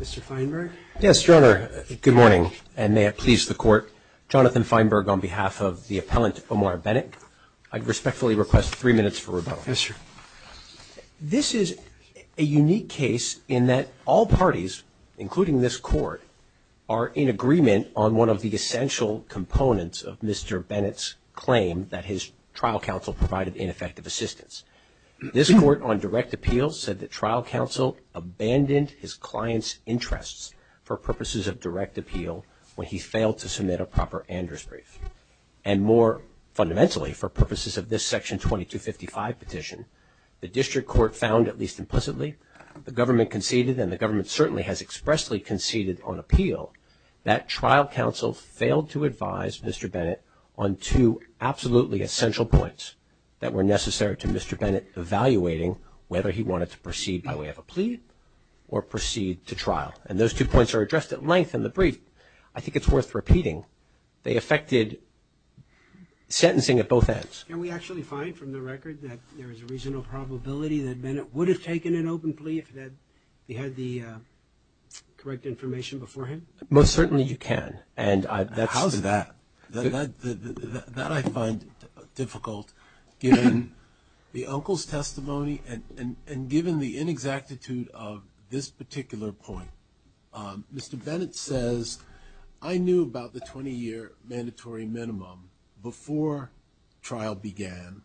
Mr. Feinberg? Yes, Your Honor. Good morning, and may it please the Court. Jonathan Feinberg on behalf of the appellant Omar Bennett. I respectfully request three minutes for rebuttal. Yes, sir. This is a unique case in that all parties, including this Court, are in agreement on one of the essential components of Mr. Bennett's claim that his trial counsel provided ineffective assistance. This Court, on direct appeal, said that trial counsel abandoned his client's interests for purposes of direct appeal when he failed to submit a proper Andrews brief. And more fundamentally, for purposes of this Section 2255 petition, the District Court found, at least implicitly, the government conceded, and the government certainly has expressly conceded on appeal, that trial counsel failed to advise Mr. Bennett on two absolutely essential points that were necessary to Mr. Bennett evaluating whether he wanted to proceed by way of a plea or proceed to trial. And those two points are addressed at length in the brief. I think it's worth repeating. They affected sentencing at both ends. Can we actually find from the record that there is a reasonable probability that Bennett would have taken an open plea if he had the correct information beforehand? Most certainly you can. How is that? That I find difficult, given the uncle's testimony and given the inexactitude of this particular point. Mr. Bennett says, I knew about the 20-year mandatory minimum before trial began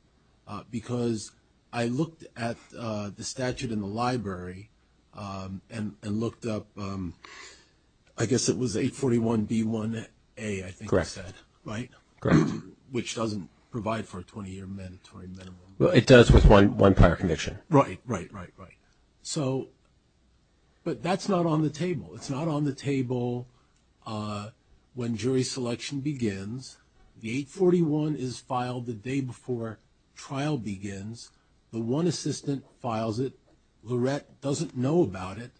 because I looked at the statute in the library and looked up, I guess it was 841b1a, I think he said, right? Correct. Which doesn't provide for a 20-year mandatory minimum. Well, it does with one prior conviction. Right, right, right, right. But that's not on the table. It's not on the table when jury selection begins. The 841 is filed the day before trial begins. The one assistant files it. Lorette doesn't know about it.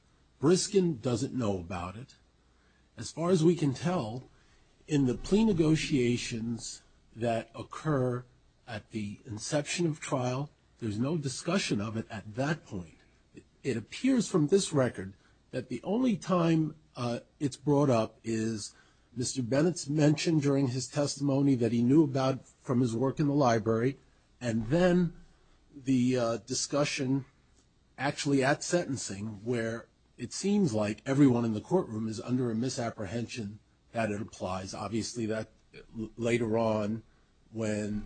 Briskin doesn't know about it. As far as we can tell, in the plea negotiations that occur at the inception of trial, there's no discussion of it at that point. It appears from this record that the only time it's brought up is Mr. Bennett's mention during his testimony that he knew about from his work in the library, and then the discussion actually at sentencing where it seems like everyone in the courtroom is under a misapprehension that it applies. Obviously, that later on when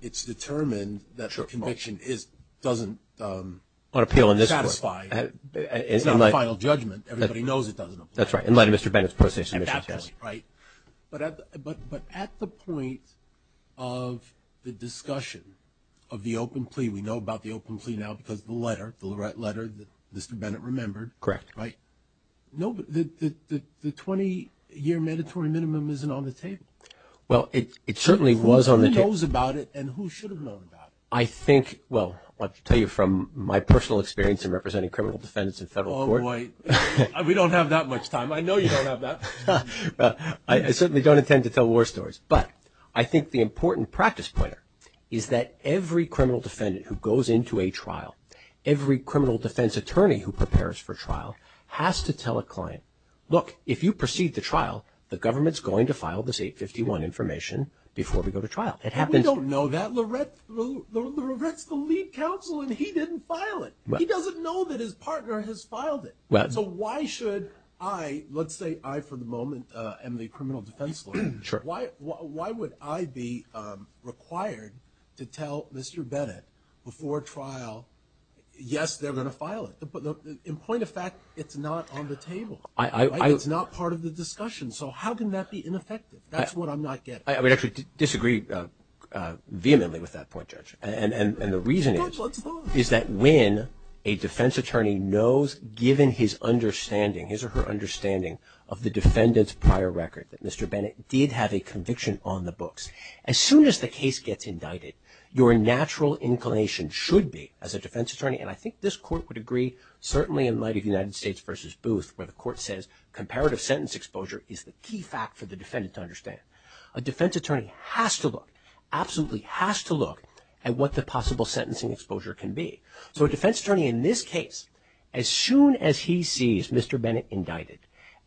it's determined that conviction doesn't satisfy, it's not a final judgment. Everybody knows it doesn't apply. That's right. In light of Mr. Bennett's position. But at the point of the discussion of the open plea, we know about the open plea now because the letter, the Lorette letter that Mr. Bennett remembered. Correct. The 20-year mandatory minimum isn't on the table. Well, it certainly was on the table. Who knows about it and who should have known about it? I think, well, I'll tell you from my personal experience in representing criminal defendants in federal court. Oh, boy. We don't have that much time. I know you don't have that. I certainly don't intend to tell war stories. But I think the important practice point is that every criminal defendant who goes into a trial, every criminal defense attorney who prepares for trial has to tell a client, look, if you proceed to trial, the government's going to file this 851 information before we go to trial. We don't know that. Lorette's the lead counsel and he didn't file it. He doesn't know that his partner has filed it. So why should I, let's say I, for the moment, am the criminal defense lawyer. Why would I be required to tell Mr. Bennett before trial, yes, they're going to file it. But in point of fact, it's not on the table. It's not part of the discussion. So how can that be ineffective? That's what I'm not getting. I would actually disagree vehemently with that point, Judge. And the reason is that when a defense attorney has to look, absolutely has to look at what the possible sentencing exposure can be. So a defense attorney in this case, as soon as he sees Mr. Bennett indicted, as soon as the case gets indicted, your natural inclination should be as a defense attorney, and I think this court would agree, certainly in light of United States v. Booth, where the court says comparative sentence exposure is the key fact for the defendant to understand. A defense attorney has to look, absolutely has to look at what the possible sentencing exposure can be. So a defense attorney in this case, as soon as he sees Mr. Bennett indicted,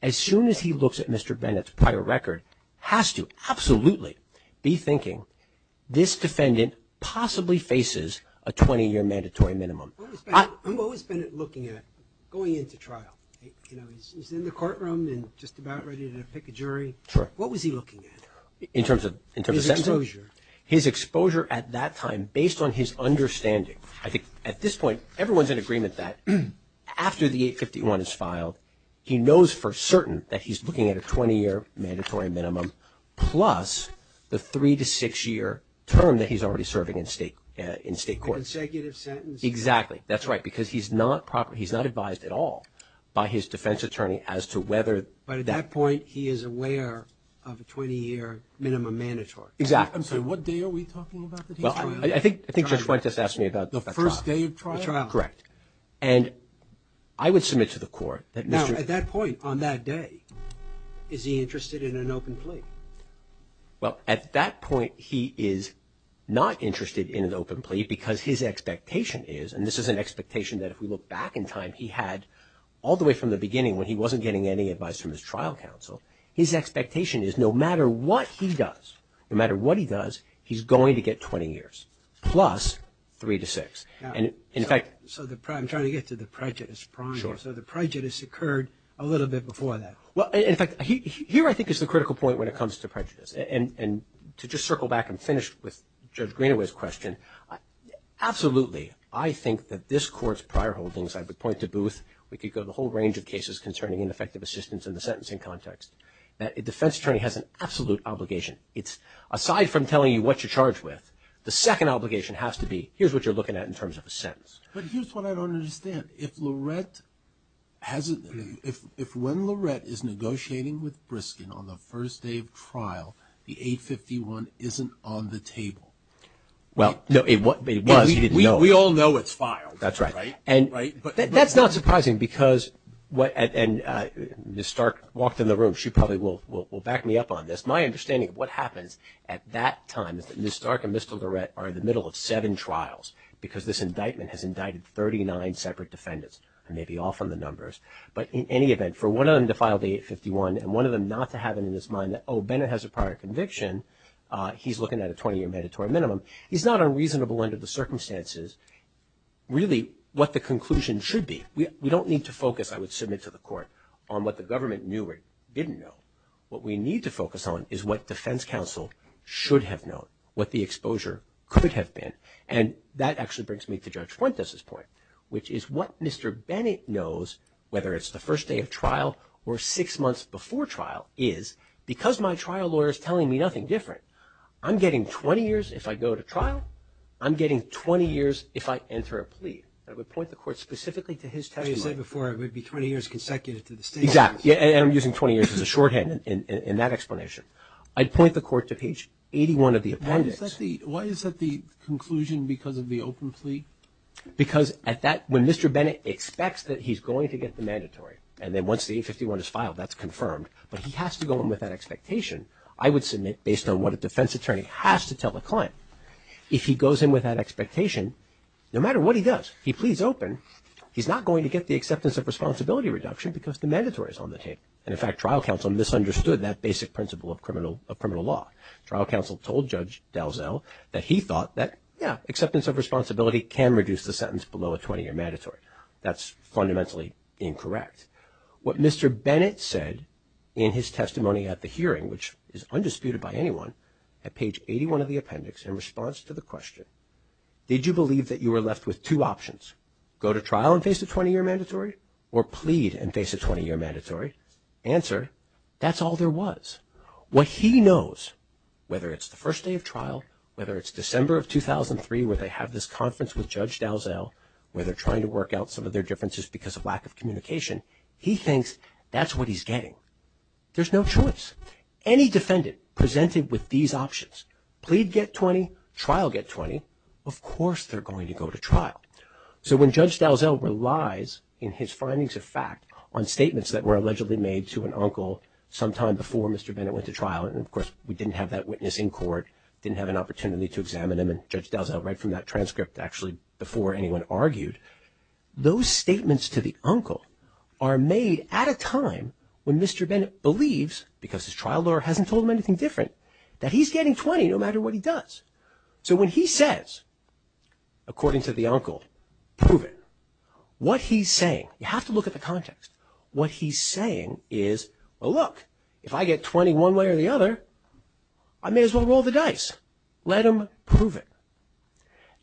as soon as he looks at Mr. Bennett's prior record, has to absolutely be thinking this defendant possibly faces a 20-year mandatory minimum. I'm always Bennett looking at going into trial. You know, he's in the courtroom and just about ready to pick a jury. What was he looking at in terms of exposure, his exposure at that time, based on his understanding? I think at this point, everyone's in agreement that after the 851 is filed, he knows for certain that he's looking at a 20-year mandatory minimum, plus the three to six year term that he's already serving in state, in state court. Exactly. That's right, because he's not proper. He's not advised at all by his defense attorney as to whether that point he is aware of a 20-year minimum mandatory. Exactly. I'm sorry, what day are we talking about? Well, I think I think Judge Fuentes asked me about the first day of trial. Correct. And I would submit to the court that Mr. At that point on that day, is he interested in an open plea? Well, at that point, he is not interested in an open plea because his expectation is, and this is an expectation that if we look back in time, he had all the way from the beginning when he wasn't getting any advice from his trial counsel. His expectation is no matter what he does, no matter what he does, he's going to get 20 years plus three to six. And in fact, so I'm trying to get to the prejudice prong here. So the prejudice occurred a little bit before that. Well, in fact, here, I think, is the critical point when it comes to prejudice and to just circle back and finish with Judge Greenaway's question. Absolutely. I think that this court's prior holdings, I would point to Booth. We could go the whole range of cases concerning ineffective assistance in the sentencing context that a defense attorney has an absolute obligation. It's aside from telling you what you're charged with. The second obligation has to be here's what you're looking at in terms of a sentence. But here's what I don't understand. If Lorette hasn't, if when Lorette is negotiating with Briskin on the first day of trial, the 851 isn't on the table. Well, no, it was, he didn't know. We all know it's filed. That's right. And that's not surprising because what, and Ms. Stark walked in the room. She probably will back me up on this. My understanding of what happens at that time is that Ms. Stark and Mr. Lorette are in the middle of seven trials because this indictment has indicted 39 separate defendants. I may be off on the numbers. But in any event, for one of them to file the 851 and one of them not to have it in his mind that, oh, Bennett has a prior conviction, he's looking at a 20-year mandatory minimum. He's not unreasonable under the circumstances. Really, what the conclusion should be, we don't need to focus, I would submit to the court, on what the government knew or didn't know. What we need to focus on is what defense counsel should have known, what the exposure could have been. And that actually brings me to Judge Fuentes' point, which is what Mr. Bennett knows, whether it's the first day of trial or six months before trial, is because my trial lawyer is telling me nothing different, I'm getting 20 years if I go to trial. I'm getting 20 years if I enter a plea. I would point the court specifically to his testimony. You said before it would be 20 years consecutive to the state. Exactly, and I'm using 20 years as a shorthand in that explanation. I'd point the court to page 81 of the appendix. Why is that the conclusion because of the open plea? Because when Mr. Bennett expects that he's going to get the mandatory, and then once the 851 is filed, that's confirmed. But he has to go in with that expectation, I would submit, based on what a defense attorney has to tell the client. If he goes in with that expectation, no matter what he does, he pleads open, he's not going to get the acceptance of responsibility reduction because the mandatory is on the table, and in fact, trial counsel misunderstood that basic principle of criminal law. Trial counsel told Judge Dalzell that he thought that, yeah, acceptance of responsibility can reduce the sentence below a 20-year mandatory. That's fundamentally incorrect. What Mr. Bennett said in his testimony at the hearing, which is undisputed by anyone, at page 81 of the appendix in response to the question, did you believe that you were left with two options? Go to trial and face a 20-year mandatory or plead and face a 20-year mandatory? Answer, that's all there was. What he knows, whether it's the first day of trial, whether it's December of 2003 where they have this conference with Judge Dalzell, where they're trying to work out some of their differences because of lack of communication, he thinks that's what he's getting. There's no choice. Any defendant presented with these options, plead get 20, trial get 20, of course they're going to go to trial. So when Judge Dalzell relies in his findings of fact on statements that were allegedly made to an uncle sometime before Mr. Bennett went to trial, and of course, we didn't have that witness in court, didn't have an opportunity to examine him, and Judge Dalzell read from that transcript actually before anyone argued, those statements to the uncle are made at a time when Mr. Bennett believes, because his trial lawyer hasn't told him anything different, that he's getting 20 no matter what he does. So when he says, according to the uncle, prove it, what he's saying, you have to look at the context, what he's saying is, well look, if I get 20 one way or the other, I may as well roll the dice. Let him prove it.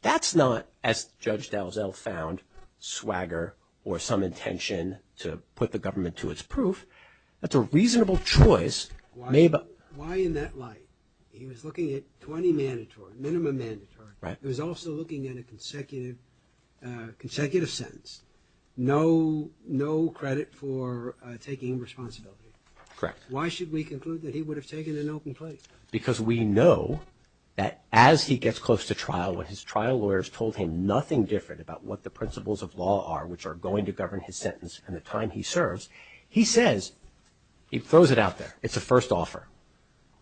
That's not, as Judge Dalzell found, swagger or some intention to put the government to its proof. That's a reasonable choice. Why in that light? He was looking at 20 mandatory, minimum mandatory. Right. He was also looking at a consecutive sentence. No credit for taking responsibility. Correct. Why should we conclude that he would have taken an open plea? Because we know that as he gets close to trial, when his trial lawyers told him nothing different about what the principles of law are, which are going to govern his sentence, and the time he serves, he says, he throws it out there. It's a first offer.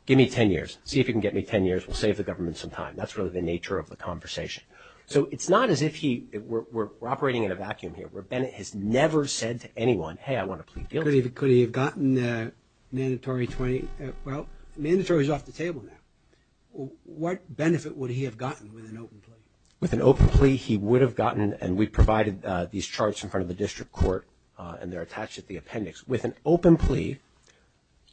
Give me 10 years. See if you can get me 10 years, we'll save the government some time. That's really the nature of the conversation. So it's not as if he, we're operating in a vacuum here, where Bennett has never said to anyone, hey, I want to plead guilty. Could he have gotten mandatory 20? Well, mandatory is off the table now. What benefit would he have gotten with an open plea? With an open plea, he would have gotten, and we provided these charts in front of the district court, and they're attached at the appendix. With an open plea,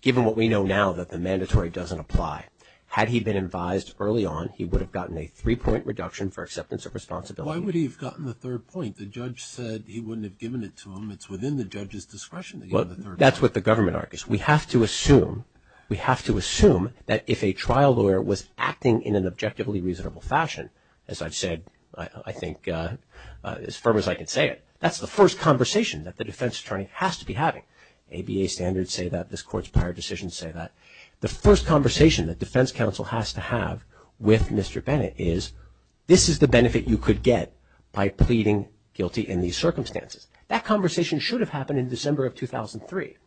given what we know now that the mandatory doesn't apply, had he been advised early on, he would have gotten a three-point reduction for acceptance of responsibility. Why would he have gotten the third point? The judge said he wouldn't have given it to him. It's within the judge's discretion to give him the third point. That's what the government argues. We have to assume, we have to assume that if a trial lawyer was acting in an objectively reasonable fashion, as I've said, I think as firm as I can say it, that's the first conversation that the defense attorney has to be having. ABA standards say that. This court's prior decisions say that. The first conversation that defense counsel has to have with Mr. Bennett is, this is the benefit you could get by pleading guilty in these circumstances. That conversation should have happened in December of 2003.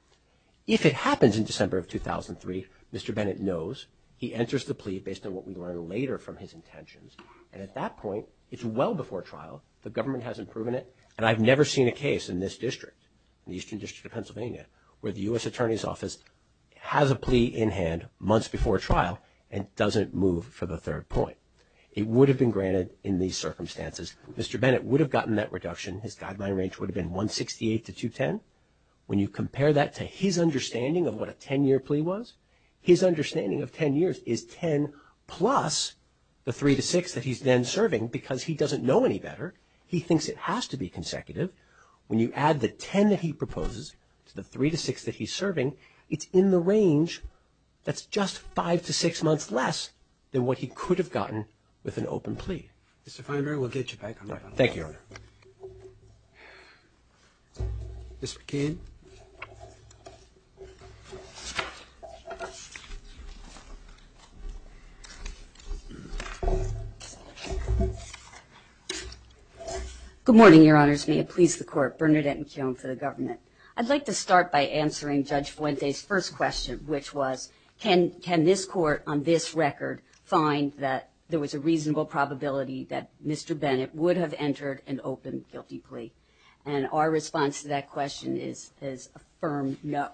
If it happens in December of 2003, Mr. Bennett knows. He enters the plea based on what we learn later from his intentions. And at that point, it's well before trial. The government hasn't proven it. And I've never seen a case in this district, the Eastern District of Pennsylvania, where the U.S. Attorney's Office has a plea in hand months before trial and doesn't move for the third point. It would have been granted in these circumstances. Mr. Bennett would have gotten that reduction. His guideline range would have been 168 to 210. When you compare that to his understanding of what a 10-year plea was, his understanding of 10 years is 10 plus the 3 to 6 that he's then serving because he doesn't know any better. He thinks it has to be consecutive. When you add the 10 that he proposes to the 3 to 6 that he's serving, it's in the range that's just 5 to 6 months less than what he could have gotten with an open plea. Mr. Feinberg, we'll get you back on the line. Thank you, Your Honor. Mr. McKeon. Good morning, Your Honors. May it please the Court. Bernadette McKeon for the government. I'd like to start by answering Judge Fuente's first question, which was, can this Court on this record find that there was a reasonable probability that Mr. Bennett would have entered an open guilty plea? And our response to that question is a firm no.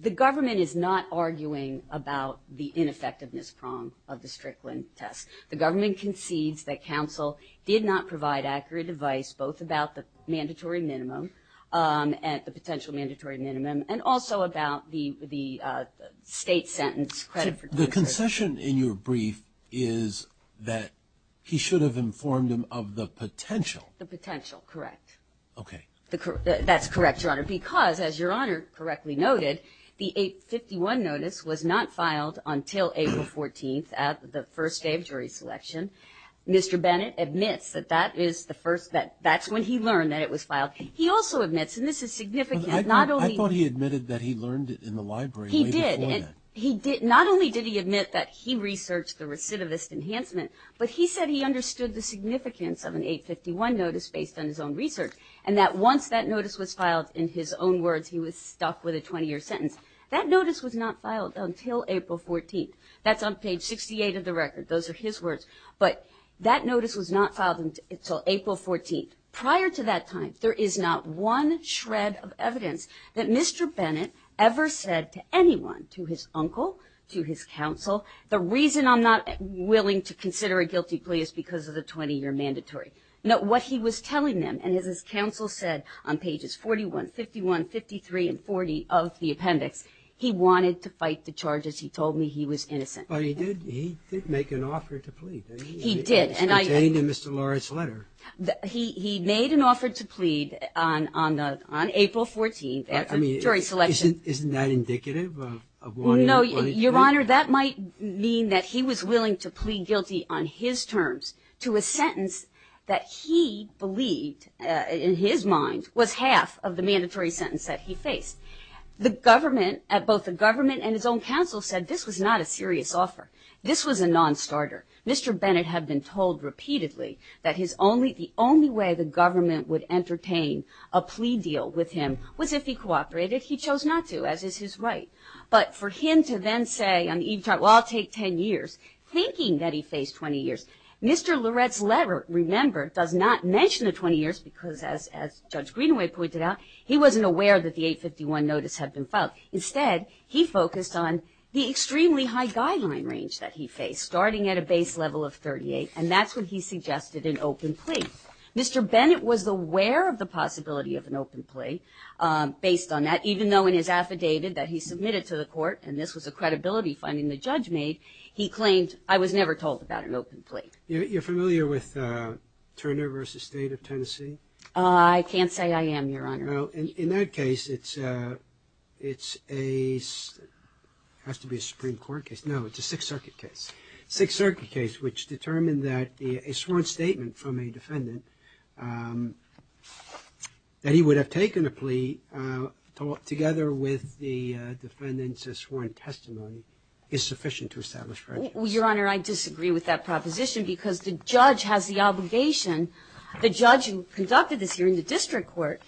The government is not arguing about the ineffectiveness prong of the Strickland test. The government concedes that counsel did not provide accurate advice, both about the mandatory minimum and the potential mandatory minimum, and also about the state sentence credit for doing so. The concession in your brief is that he should have informed him of the potential. The potential, correct. Okay. That's correct, Your Honor, because as Your Honor correctly noted, the 851 notice was not filed until April 14th at the first day of jury selection. Mr. Bennett admits that that is the first, that that's when he learned that it was filed. He also admits, and this is significant, not only- I thought he admitted that he learned it in the library way before that. He did- not only did he admit that he researched the recidivist enhancement, but he said he understood the significance of an 851 notice based on his own research, and that once that notice was filed in his own words, he was stuck with a 20-year sentence. That notice was not filed until April 14th. That's on page 68 of the record. Those are his words. But that notice was not filed until April 14th. Prior to that time, there is not one shred of evidence that Mr. Bennett ever said to anyone, to his uncle, to his counsel, the reason I'm not willing to consider a guilty plea is because of the 20-year mandatory. Note what he was telling them, and as his counsel said on pages 41, 51, 53, and 40 of the appendix, he wanted to fight the charges. He told me he was innocent. But he did- he did make an offer to plead. He did, and I- It's contained in Mr. Lawrence's letter. He- he made an offer to plead on- on the- on April 14th, jury selection. Isn't- isn't that indicative of what he wanted to plead? Your Honor, that might mean that he was willing to plead guilty on his terms to a sentence that he believed, in his mind, was half of the mandatory sentence that he faced. The government, both the government and his own counsel, said this was not a serious offer. This was a non-starter. Mr. Bennett had been told repeatedly that his only- the only way the government would entertain a plea deal with him was if he cooperated. He chose not to, as is his right. But for him to then say on the evening trial, well, I'll take 10 years, thinking that he faced 20 years. Mr. Loret's letter, remember, does not mention the 20 years because, as- as Judge Greenaway pointed out, he wasn't aware that the 851 notice had been filed. Instead, he focused on the extremely high guideline range that he faced, starting at a base level of 38, and that's when he suggested an open plea. Mr. Bennett was aware of the possibility of an open plea based on that, even though in his affidavit that he submitted to the court, and this was a credibility finding the judge made, he claimed, I was never told about an open plea. You're familiar with Turner v. State of Tennessee? I can't say I am, Your Honor. Well, in that case, it's a- it's a- has to be a Supreme Court case. No, it's a Sixth Circuit case. Sixth Circuit case, which determined that the- a sworn statement from a defendant, um, that he would have taken a plea, uh, together with the defendant's sworn testimony, is sufficient to establish prejudice. Well, Your Honor, I disagree with that proposition because the judge has the obligation. The judge who conducted this hearing, the district court,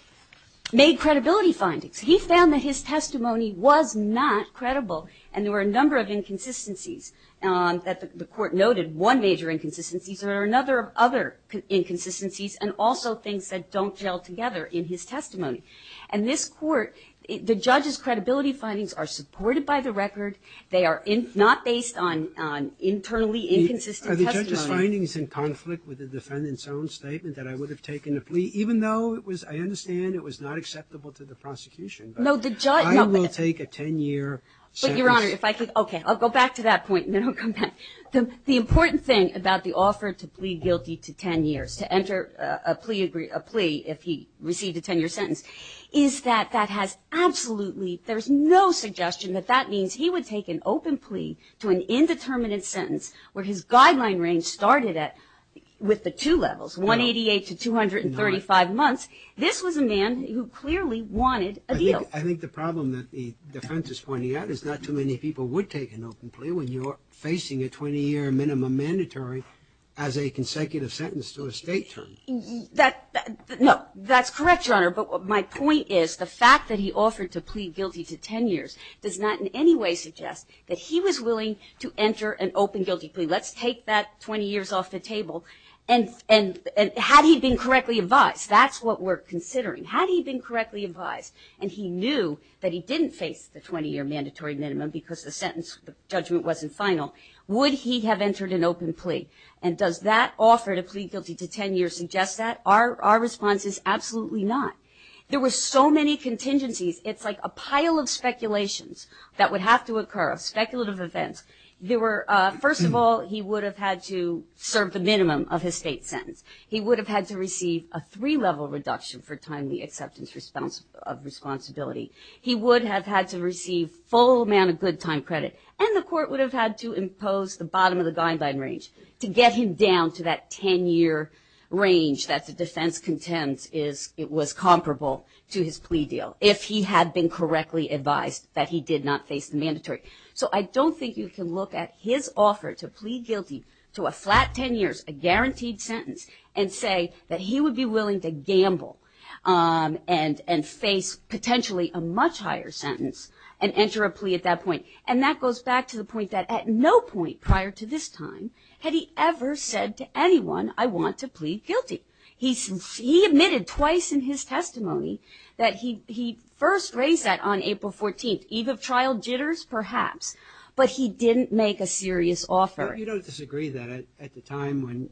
made credibility findings. He found that his testimony was not credible, and there were a number of inconsistencies, um, that the court noted, one major inconsistency, there are another- other inconsistencies, and also things that don't gel together in his testimony. And this court, the judge's credibility findings are supported by the record, they are in- not based on- on internally inconsistent testimony. Are the judge's findings in conflict with the defendant's own statement that I would have taken a plea, even though it was- I understand it was not acceptable to the prosecution, but I will take a 10-year sentence- But Your Honor, if I could- okay, I'll go back to that point, and then I'll come back. The- the important thing about the offer to plead guilty to 10 years, to enter a plea- a plea if he received a 10-year sentence, is that that has absolutely- there's no suggestion that that means he would take an open plea to an indeterminate sentence, where his guideline range started at- with the two levels, 188 to 235 months. This was a man who clearly wanted a deal. I think the problem that the defense is pointing out is not too many people would take an open plea when you're facing a 20-year minimum mandatory as a consecutive sentence to a state term. That- no, that's correct, Your Honor, but my point is the fact that he offered to plead guilty to 10 years does not in any way suggest that he was willing to enter an open guilty plea. Let's take that 20 years off the table, and- and- and had he been correctly advised, that's what we're considering. Had he been correctly advised, and he knew that he didn't face the 20-year mandatory minimum because the sentence- the judgment wasn't final, would he have entered an open plea? And does that offer to plead guilty to 10 years suggest that? Our- our response is absolutely not. There were so many contingencies, it's like a pile of speculations that would have to occur, of speculative events. There were- first of all, he would have had to serve the minimum of his state sentence. He would have had to receive a three-level reduction for timely acceptance of responsibility. He would have had to receive full amount of good time credit, and the court would have had to impose the bottom of the guideline range to get him down to that 10-year range that the defense contends is- it was comparable to his plea deal, if he had been correctly advised that he did not face the mandatory. So I don't think you can look at his offer to plead guilty to a flat 10 years, a guaranteed sentence, and say that he would be willing to gamble, um, and- and face potentially a much higher sentence and enter a plea at that point. And that goes back to the point that at no point prior to this time had he ever said to anyone, I want to plead guilty. He- he admitted twice in his testimony that he- he first raised that on April 14th. Eve of trial jitters, perhaps, but he didn't make a serious offer. You don't disagree that at- at the time when-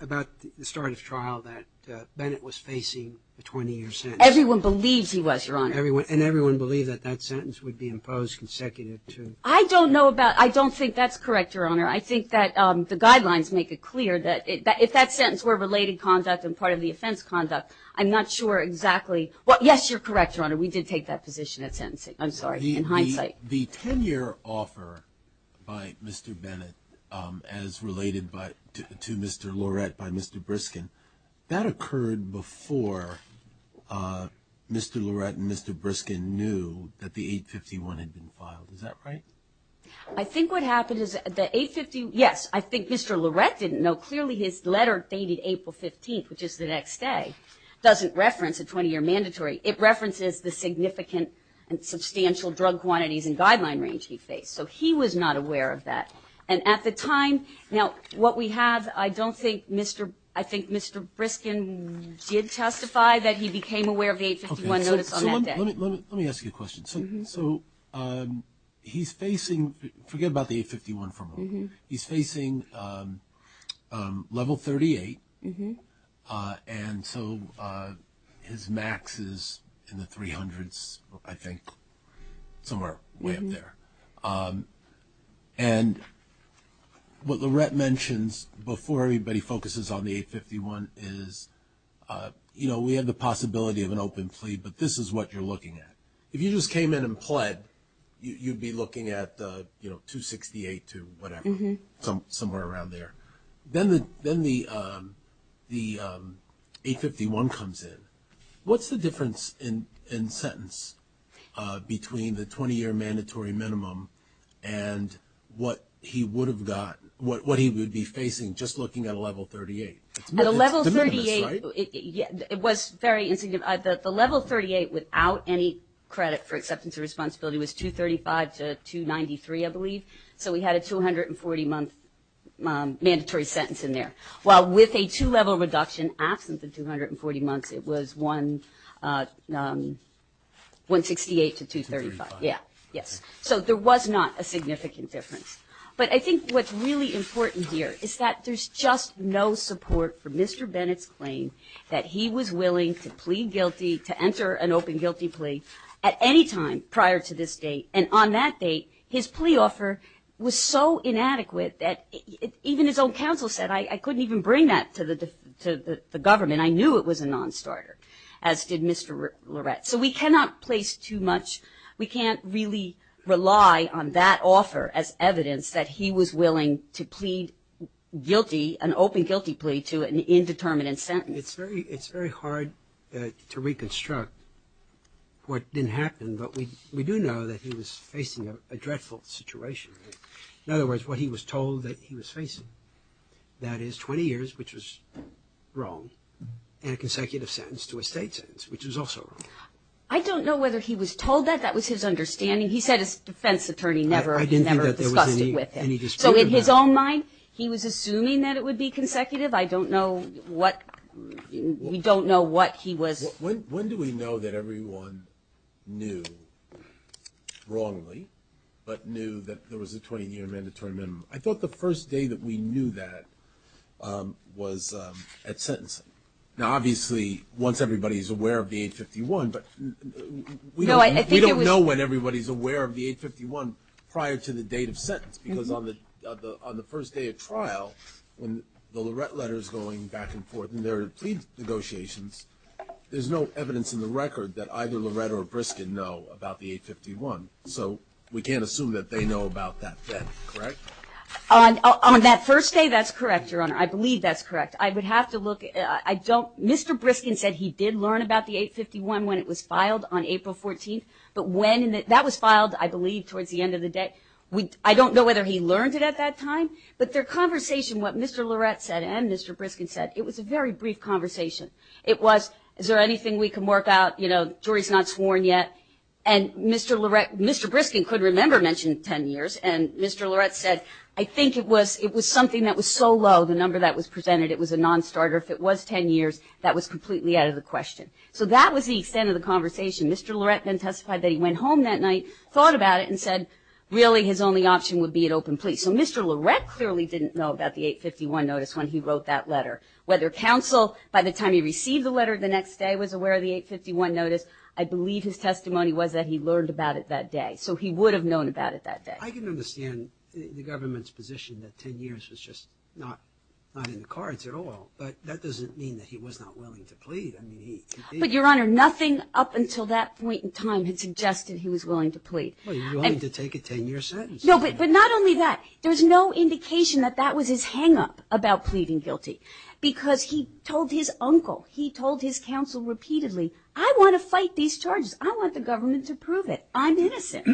about the start of trial that, uh, Bennett was facing a 20-year sentence? Everyone believes he was, Your Honor. Everyone- and everyone believed that that sentence would be imposed consecutive to- I don't know about- I don't think that's correct, Your Honor. I think that, um, the guidelines make it clear that it- that if that sentence were related conduct and part of the offense conduct, I'm not sure exactly- well, yes, you're correct, Your Honor. We did take that position at sentencing. I'm sorry, in hindsight. The 10-year offer by Mr. Bennett, um, as related by- to Mr. Lorette by Mr. Briskin, that occurred before, uh, Mr. Lorette and Mr. Briskin knew that the 851 had been filed. Is that right? I think what happened is the 851- yes, I think Mr. Lorette didn't know. Clearly, his letter dated April 15th, which is the next day, doesn't reference a 20-year mandatory. It references the significant and substantial drug quantities and guideline range he faced. So he was not aware of that. And at the time- now, what we have, I don't think Mr.- I think Mr. Briskin did testify that he became aware of the 851 notice on that day. Let me- let me ask you a question. So, um, he's facing- forget about the 851 for a moment. He's facing, um, um, level 38, uh, and so, uh, his max is in the 300s, I think, somewhere. Way up there. Um, and what Lorette mentions before everybody focuses on the 851 is, uh, you know, we have the possibility of an open plea, but this is what you're looking at. If you just came in and pled, you'd be looking at, uh, you know, 268 to whatever, somewhere around there. Then the- then the, um, the, um, 851 comes in. What's the difference in- in sentence, uh, between the 20-year mandatory minimum and what he would've got- what- what he would be facing just looking at a level 38? It's- it's de minimis, right? At a level 38, it- it- it was very insignificant. The- the level 38 without any credit for acceptance or responsibility was 235 to 293, I believe. So, we had a 240-month, um, mandatory sentence in there. Well, with a two-level reduction absent the 240 months, it was one, uh, um, 168 to 235. Yeah, yes. So, there was not a significant difference. But I think what's really important here is that there's just no support for Mr. Bennett's claim that he was willing to plead guilty, to enter an open guilty plea at any time prior to this date. And on that date, his plea offer was so inadequate that even his own counsel said, I- I couldn't even bring that to the- to the- the government. And I knew it was a non-starter, as did Mr. Lorette. So, we cannot place too much- we can't really rely on that offer as evidence that he was willing to plead guilty, an open guilty plea to an indeterminate sentence. It's very- it's very hard, uh, to reconstruct what didn't happen, but we- we do know that he was facing a- a dreadful situation, right? In other words, what he was told that he was facing, that is 20 years, which was wrong, and a consecutive sentence to a state sentence, which was also wrong. I don't know whether he was told that. That was his understanding. He said his defense attorney never- never discussed it with him. I didn't think that there was any- any dispute about it. So, in his own mind, he was assuming that it would be consecutive. I don't know what- we don't know what he was- When- when do we know that everyone knew, wrongly, but knew that there was a 20-year mandatory minimum? I thought the first day that we knew that was at sentencing. Now, obviously, once everybody's aware of the 851, but we don't- No, I think it was- We don't know when everybody's aware of the 851 prior to the date of sentence, because on the- on the first day of trial, when the Lorette letter's going back and forth in their plea negotiations, there's no evidence in the record that either Lorette or Briskin know about the 851. So, we can't assume that they know about that then, correct? On- on that first day, that's correct, Your Honor. I believe that's correct. I would have to look- I don't- Mr. Briskin said he did learn about the 851 when it was filed on April 14th, but when- that was filed, I believe, towards the end of the day. I don't know whether he learned it at that time, but their conversation, what Mr. Lorette said and Mr. Briskin said, it was a very brief conversation. It was, is there anything we can work out? You know, jury's not sworn yet. And Mr. Lorette- Mr. Briskin could remember mentioned 10 years, and Mr. Lorette said, I think it was- it was something that was so low, the number that was presented, it was a non-starter. If it was 10 years, that was completely out of the question. So, that was the extent of the conversation. Mr. Lorette then testified that he went home that night, thought about it, and said, really, his only option would be an open plea. So, Mr. Lorette clearly didn't know about the 851 notice when he wrote that letter. Whether counsel, by the time he received the letter the next day, was aware of the 851 notice, I believe his testimony was that he learned about it that day. So, he would have known about it that day. I can understand the government's position that 10 years was just not, not in the cards at all, but that doesn't mean that he was not willing to plead. I mean, he- But Your Honor, nothing up until that point in time had suggested he was willing to plead. Well, he was willing to take a 10-year sentence. No, but not only that, there was no indication that that was his hang-up about pleading guilty, because he told his uncle, he told his counsel repeatedly, I want to fight these charges. I want the government to prove it. I'm innocent.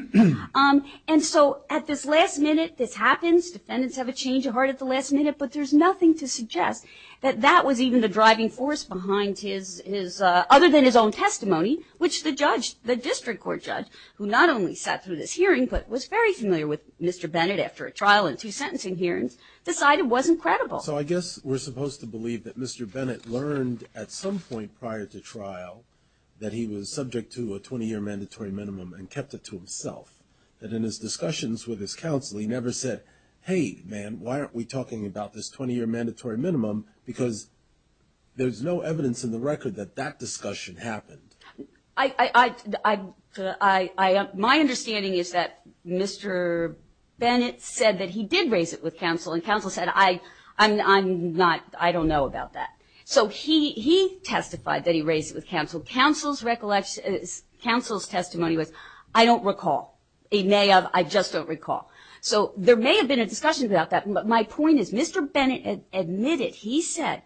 And so, at this last minute, this happens. Defendants have a change of heart at the last minute, but there's nothing to suggest that that was even the driving force behind his, other than his own testimony, which the judge, the district court judge, who not only sat through this hearing, but was very familiar with Mr. Bennett after a trial and two sentencing hearings, decided was incredible. So, I guess we're supposed to believe that Mr. Bennett learned at some point prior to trial that he was subject to a 20-year mandatory minimum and kept it to himself, that in his discussions with his counsel, he never said, hey, man, why aren't we talking about this 20-year mandatory minimum, because there's no evidence in the record that that discussion happened. I, I, I, I, I, I, my understanding is that Mr. Bennett said that he did raise it with counsel, and counsel said, I, I'm, I'm not, I don't know about that. So, he, he testified that he raised it with counsel. Counsel's recollection, counsel's testimony was, I don't recall. He may have, I just don't recall. So, there may have been a discussion about that, but my point is, Mr. Bennett admitted, he said,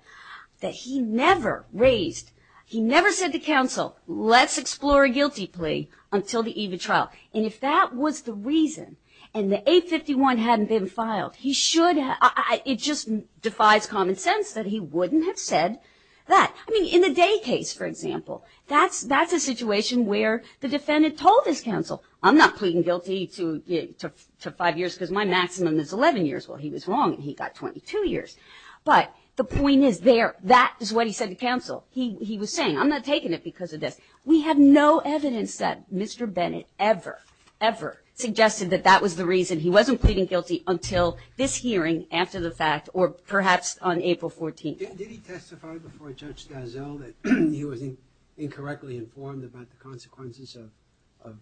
that he never raised, he never said to counsel, let's explore a guilty plea until the evening trial. And if that was the reason, and the 851 hadn't been filed, he should have, I, I, it just defies common sense that he wouldn't have said that. I mean, in the Day case, for example, that's, that's a situation where the defendant told his counsel, I'm not pleading guilty to, to, to five years, because my maximum is 11 years. Well, he was wrong, and he got 22 years. But the point is there, that is what he said to counsel, he, he was saying, I'm not taking it because of this. We have no evidence that Mr. Bennett ever, ever suggested that that was the reason he wasn't pleading guilty until this hearing after the fact, or perhaps on April 14th. Did he testify before Judge DelZell that he was incorrectly informed about the consequences of, of,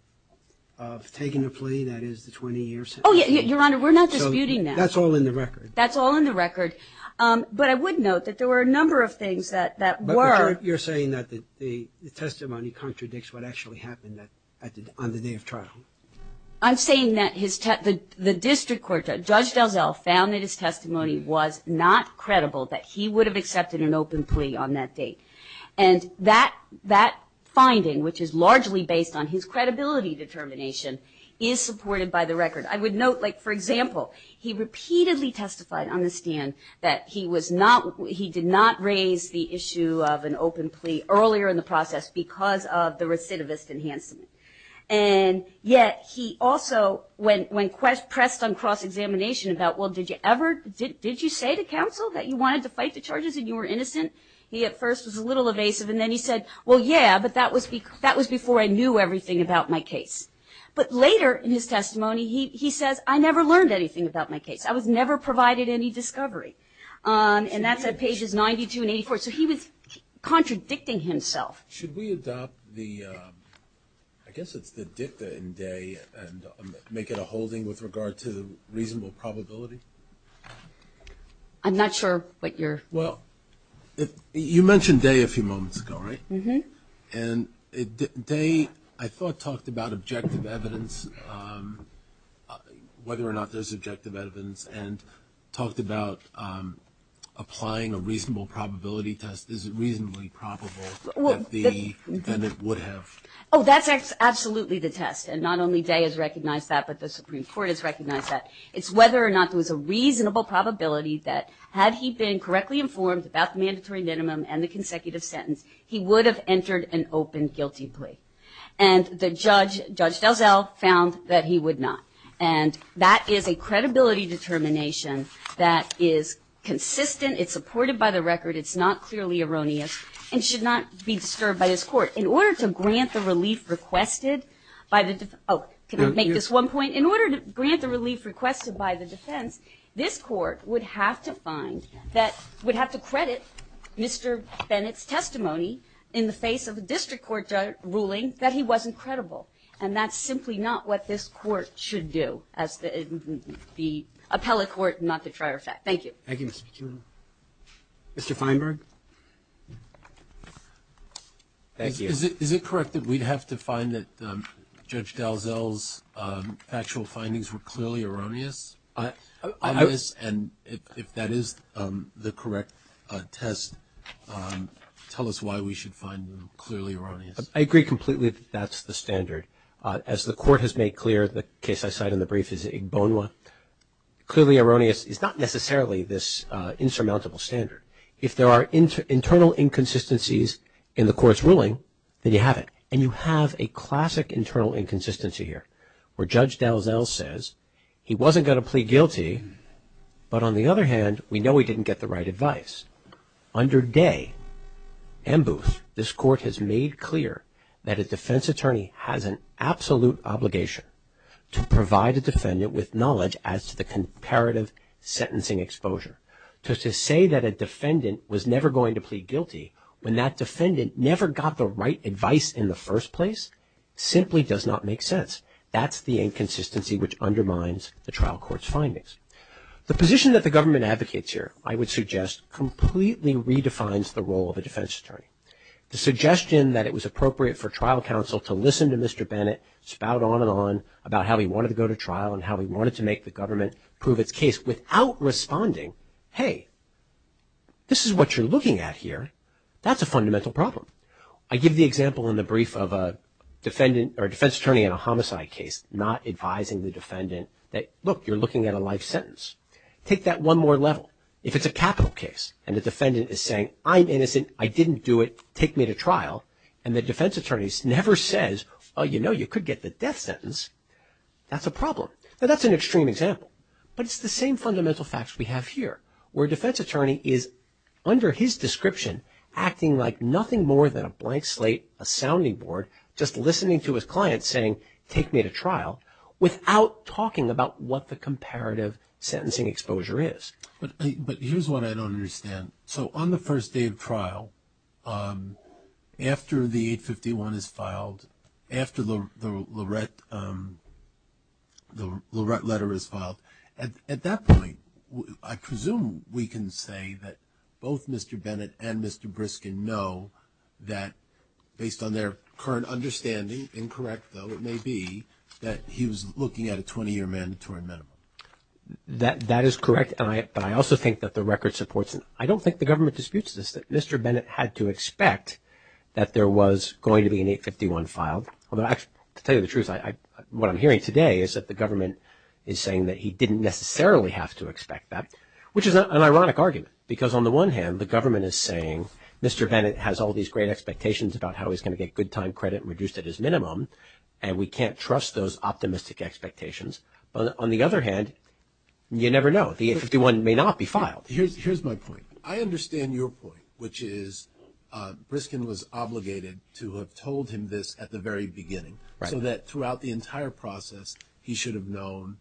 of taking a plea that is the 20 years? Oh yeah, Your Honor, we're not disputing that. So, that's all in the record. That's all in the record. But I would note that there were a number of things that, that were. But you're, you're saying that the, the testimony contradicts what actually happened that, at the, on the day of trial. I'm saying that his, the, the district court, Judge DelZell found that his testimony was not credible, that he would have accepted an open plea on that date. And that, that finding, which is largely based on his credibility determination, is supported by the record. I would note, like, for example, he repeatedly testified on the stand that he was not, he did not raise the issue of an open plea earlier in the process because of the recidivist enhancement. And yet, he also, when, when pressed on cross examination about, well, did you ever, did, did you say to counsel that you wanted to fight the charges and you were innocent? He, at first, was a little evasive, and then he said, well, yeah, but that was, that was before I knew everything about my case. But later in his testimony, he, he says, I never learned anything about my case. I was never provided any discovery. And that's at pages 92 and 84. So, he was contradicting himself. Should we adopt the, I guess it's the dicta in day and make it a holding with regard to reasonable probability? I'm not sure what you're. Well, you mentioned day a few moments ago, right? And day, I thought, talked about objective evidence, whether or not there's objective evidence, and talked about applying a reasonable probability test. Is it reasonably probable that the defendant would have? Oh, that's absolutely the test. And not only day has recognized that, but the Supreme Court has recognized that. It's whether or not there was a reasonable probability that had he been correctly informed about the mandatory minimum and the consecutive sentence, he would have entered an open guilty plea. And the judge, Judge Delzell, found that he would not. And that is a credibility determination that is consistent. It's supported by the record. It's not clearly erroneous and should not be disturbed by this court. In order to grant the relief requested by the, oh, can I make this one point? In order to grant the relief requested by the defense, this court would have to find that, would have to credit Mr. Bennett's testimony in the face of a district court ruling that he wasn't credible. And that's simply not what this court should do as the appellate court, not the trier of fact. Thank you. Thank you, Mr. Piccinini. Mr. Feinberg. Thank you. Is it correct that we'd have to find that Judge Delzell's actual findings were clearly erroneous? And if that is the correct test, tell us why we should find them clearly erroneous. I agree completely that that's the standard. As the court has made clear, the case I cite in the brief is Igbonwa, clearly erroneous is not necessarily this insurmountable standard. If there are internal inconsistencies in the court's ruling, then you have it. And you have a classic internal inconsistency here where Judge Delzell says he wasn't going to plead guilty, but on the other hand, we know he didn't get the right advice. Under Day and Booth, this court has made clear that a defense attorney has an absolute obligation to provide a defendant with knowledge as to the comparative sentencing exposure. To say that a defendant was never going to plead guilty when that defendant never got the right advice in the first place simply does not make sense. That's the inconsistency which undermines the trial court's findings. The position that the government advocates here, I would suggest, completely redefines the role of a defense attorney. The suggestion that it was appropriate for trial counsel to listen to Mr. Bennett spout on and on about how he wanted to go to trial and how he wanted to make the government prove its case without responding, hey, this is what you're looking at here, that's a fundamental problem. I give the example in the brief of a defense attorney in a homicide case, not advising the defendant that, look, you're looking at a life sentence. Take that one more level. If it's a capital case and the defendant is saying, I'm innocent, I didn't do it, take me to trial, and the defense attorney never says, oh, you know, you could get the death sentence, that's a problem. Now, that's an extreme example, but it's the same fundamental facts we have here, where a defense attorney is, under his description, acting like nothing more than a blank slate, a sounding to his client saying, take me to trial, without talking about what the comparative sentencing exposure is. But here's what I don't understand. So on the first day of trial, after the 851 is filed, after the Lorette letter is filed, at that point, I presume we can say that both Mr. Bennett and Mr. Briskin know that, based on their current understanding, incorrect though it may be, that he was looking at a 20-year mandatory minimum. That is correct. And I also think that the record supports it. I don't think the government disputes this, that Mr. Bennett had to expect that there was going to be an 851 filed. Although, to tell you the truth, what I'm hearing today is that the government is saying that he didn't necessarily have to expect that, which is not an ironic argument, because on the one hand, the government is saying, Mr. Bennett has all these great expectations about how he's going to get good time credit reduced at his minimum, and we can't trust those optimistic expectations. But on the other hand, you never know. The 851 may not be filed. Here's my point. I understand your point, which is Briskin was obligated to have told him this at the very beginning, so that throughout the entire process, he should have known,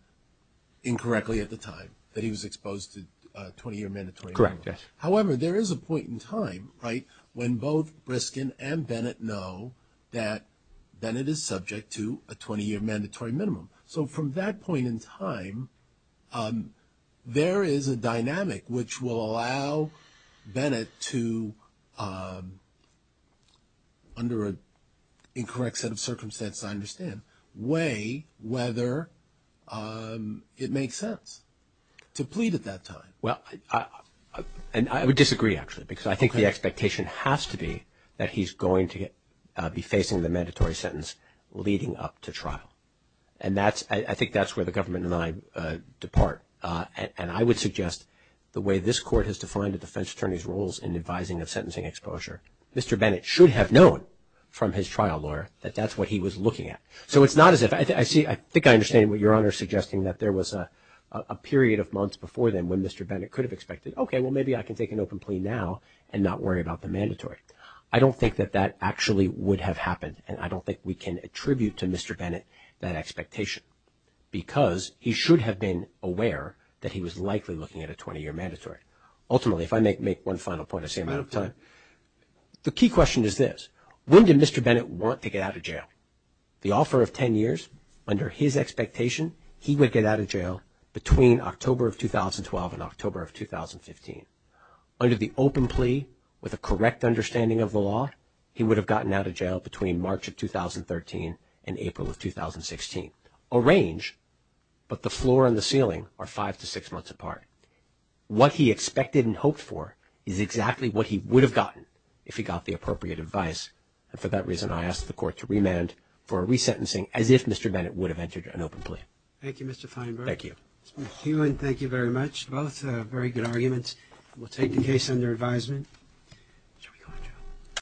incorrectly at the time, that he was exposed to a 20-year mandatory minimum. However, there is a point in time, right, when both Briskin and Bennett know that Bennett is subject to a 20-year mandatory minimum. So from that point in time, there is a dynamic which will allow Bennett to, under an incorrect set of circumstances, I understand, weigh whether it makes sense to plead at that time. Well, and I would disagree, actually, because I think it has to be that he's going to be facing the mandatory sentence leading up to trial, and that's, I think that's where the government and I depart, and I would suggest the way this court has defined a defense attorney's roles in advising of sentencing exposure, Mr. Bennett should have known from his trial lawyer that that's what he was looking at. So it's not as if, I see, I think I understand what Your Honor is suggesting, that there was a period of months before then when Mr. Bennett could have expected, okay, well, maybe I can take an open plea now and not worry about the mandatory I don't think that that actually would have happened, and I don't think we can attribute to Mr. Bennett that expectation, because he should have been aware that he was likely looking at a 20-year mandatory. Ultimately, if I may make one final point, I see I'm out of time. The key question is this, when did Mr. Bennett want to get out of jail? The offer of 10 years, under his expectation, he would get out of jail between October of 2012 and October of 2015. Under the open plea, with a correct understanding of the law, he would have gotten out of jail between March of 2013 and April of 2016. A range, but the floor and the ceiling are five to six months apart. What he expected and hoped for is exactly what he would have gotten if he got the appropriate advice, and for that reason, I asked the court to remand for a resentencing, as if Mr. Bennett would have entered an open plea. Thank you, Mr. Feinberg. Thank you. Mr. McKeown, thank you very much. Both very good arguments. We'll take the case under advisement.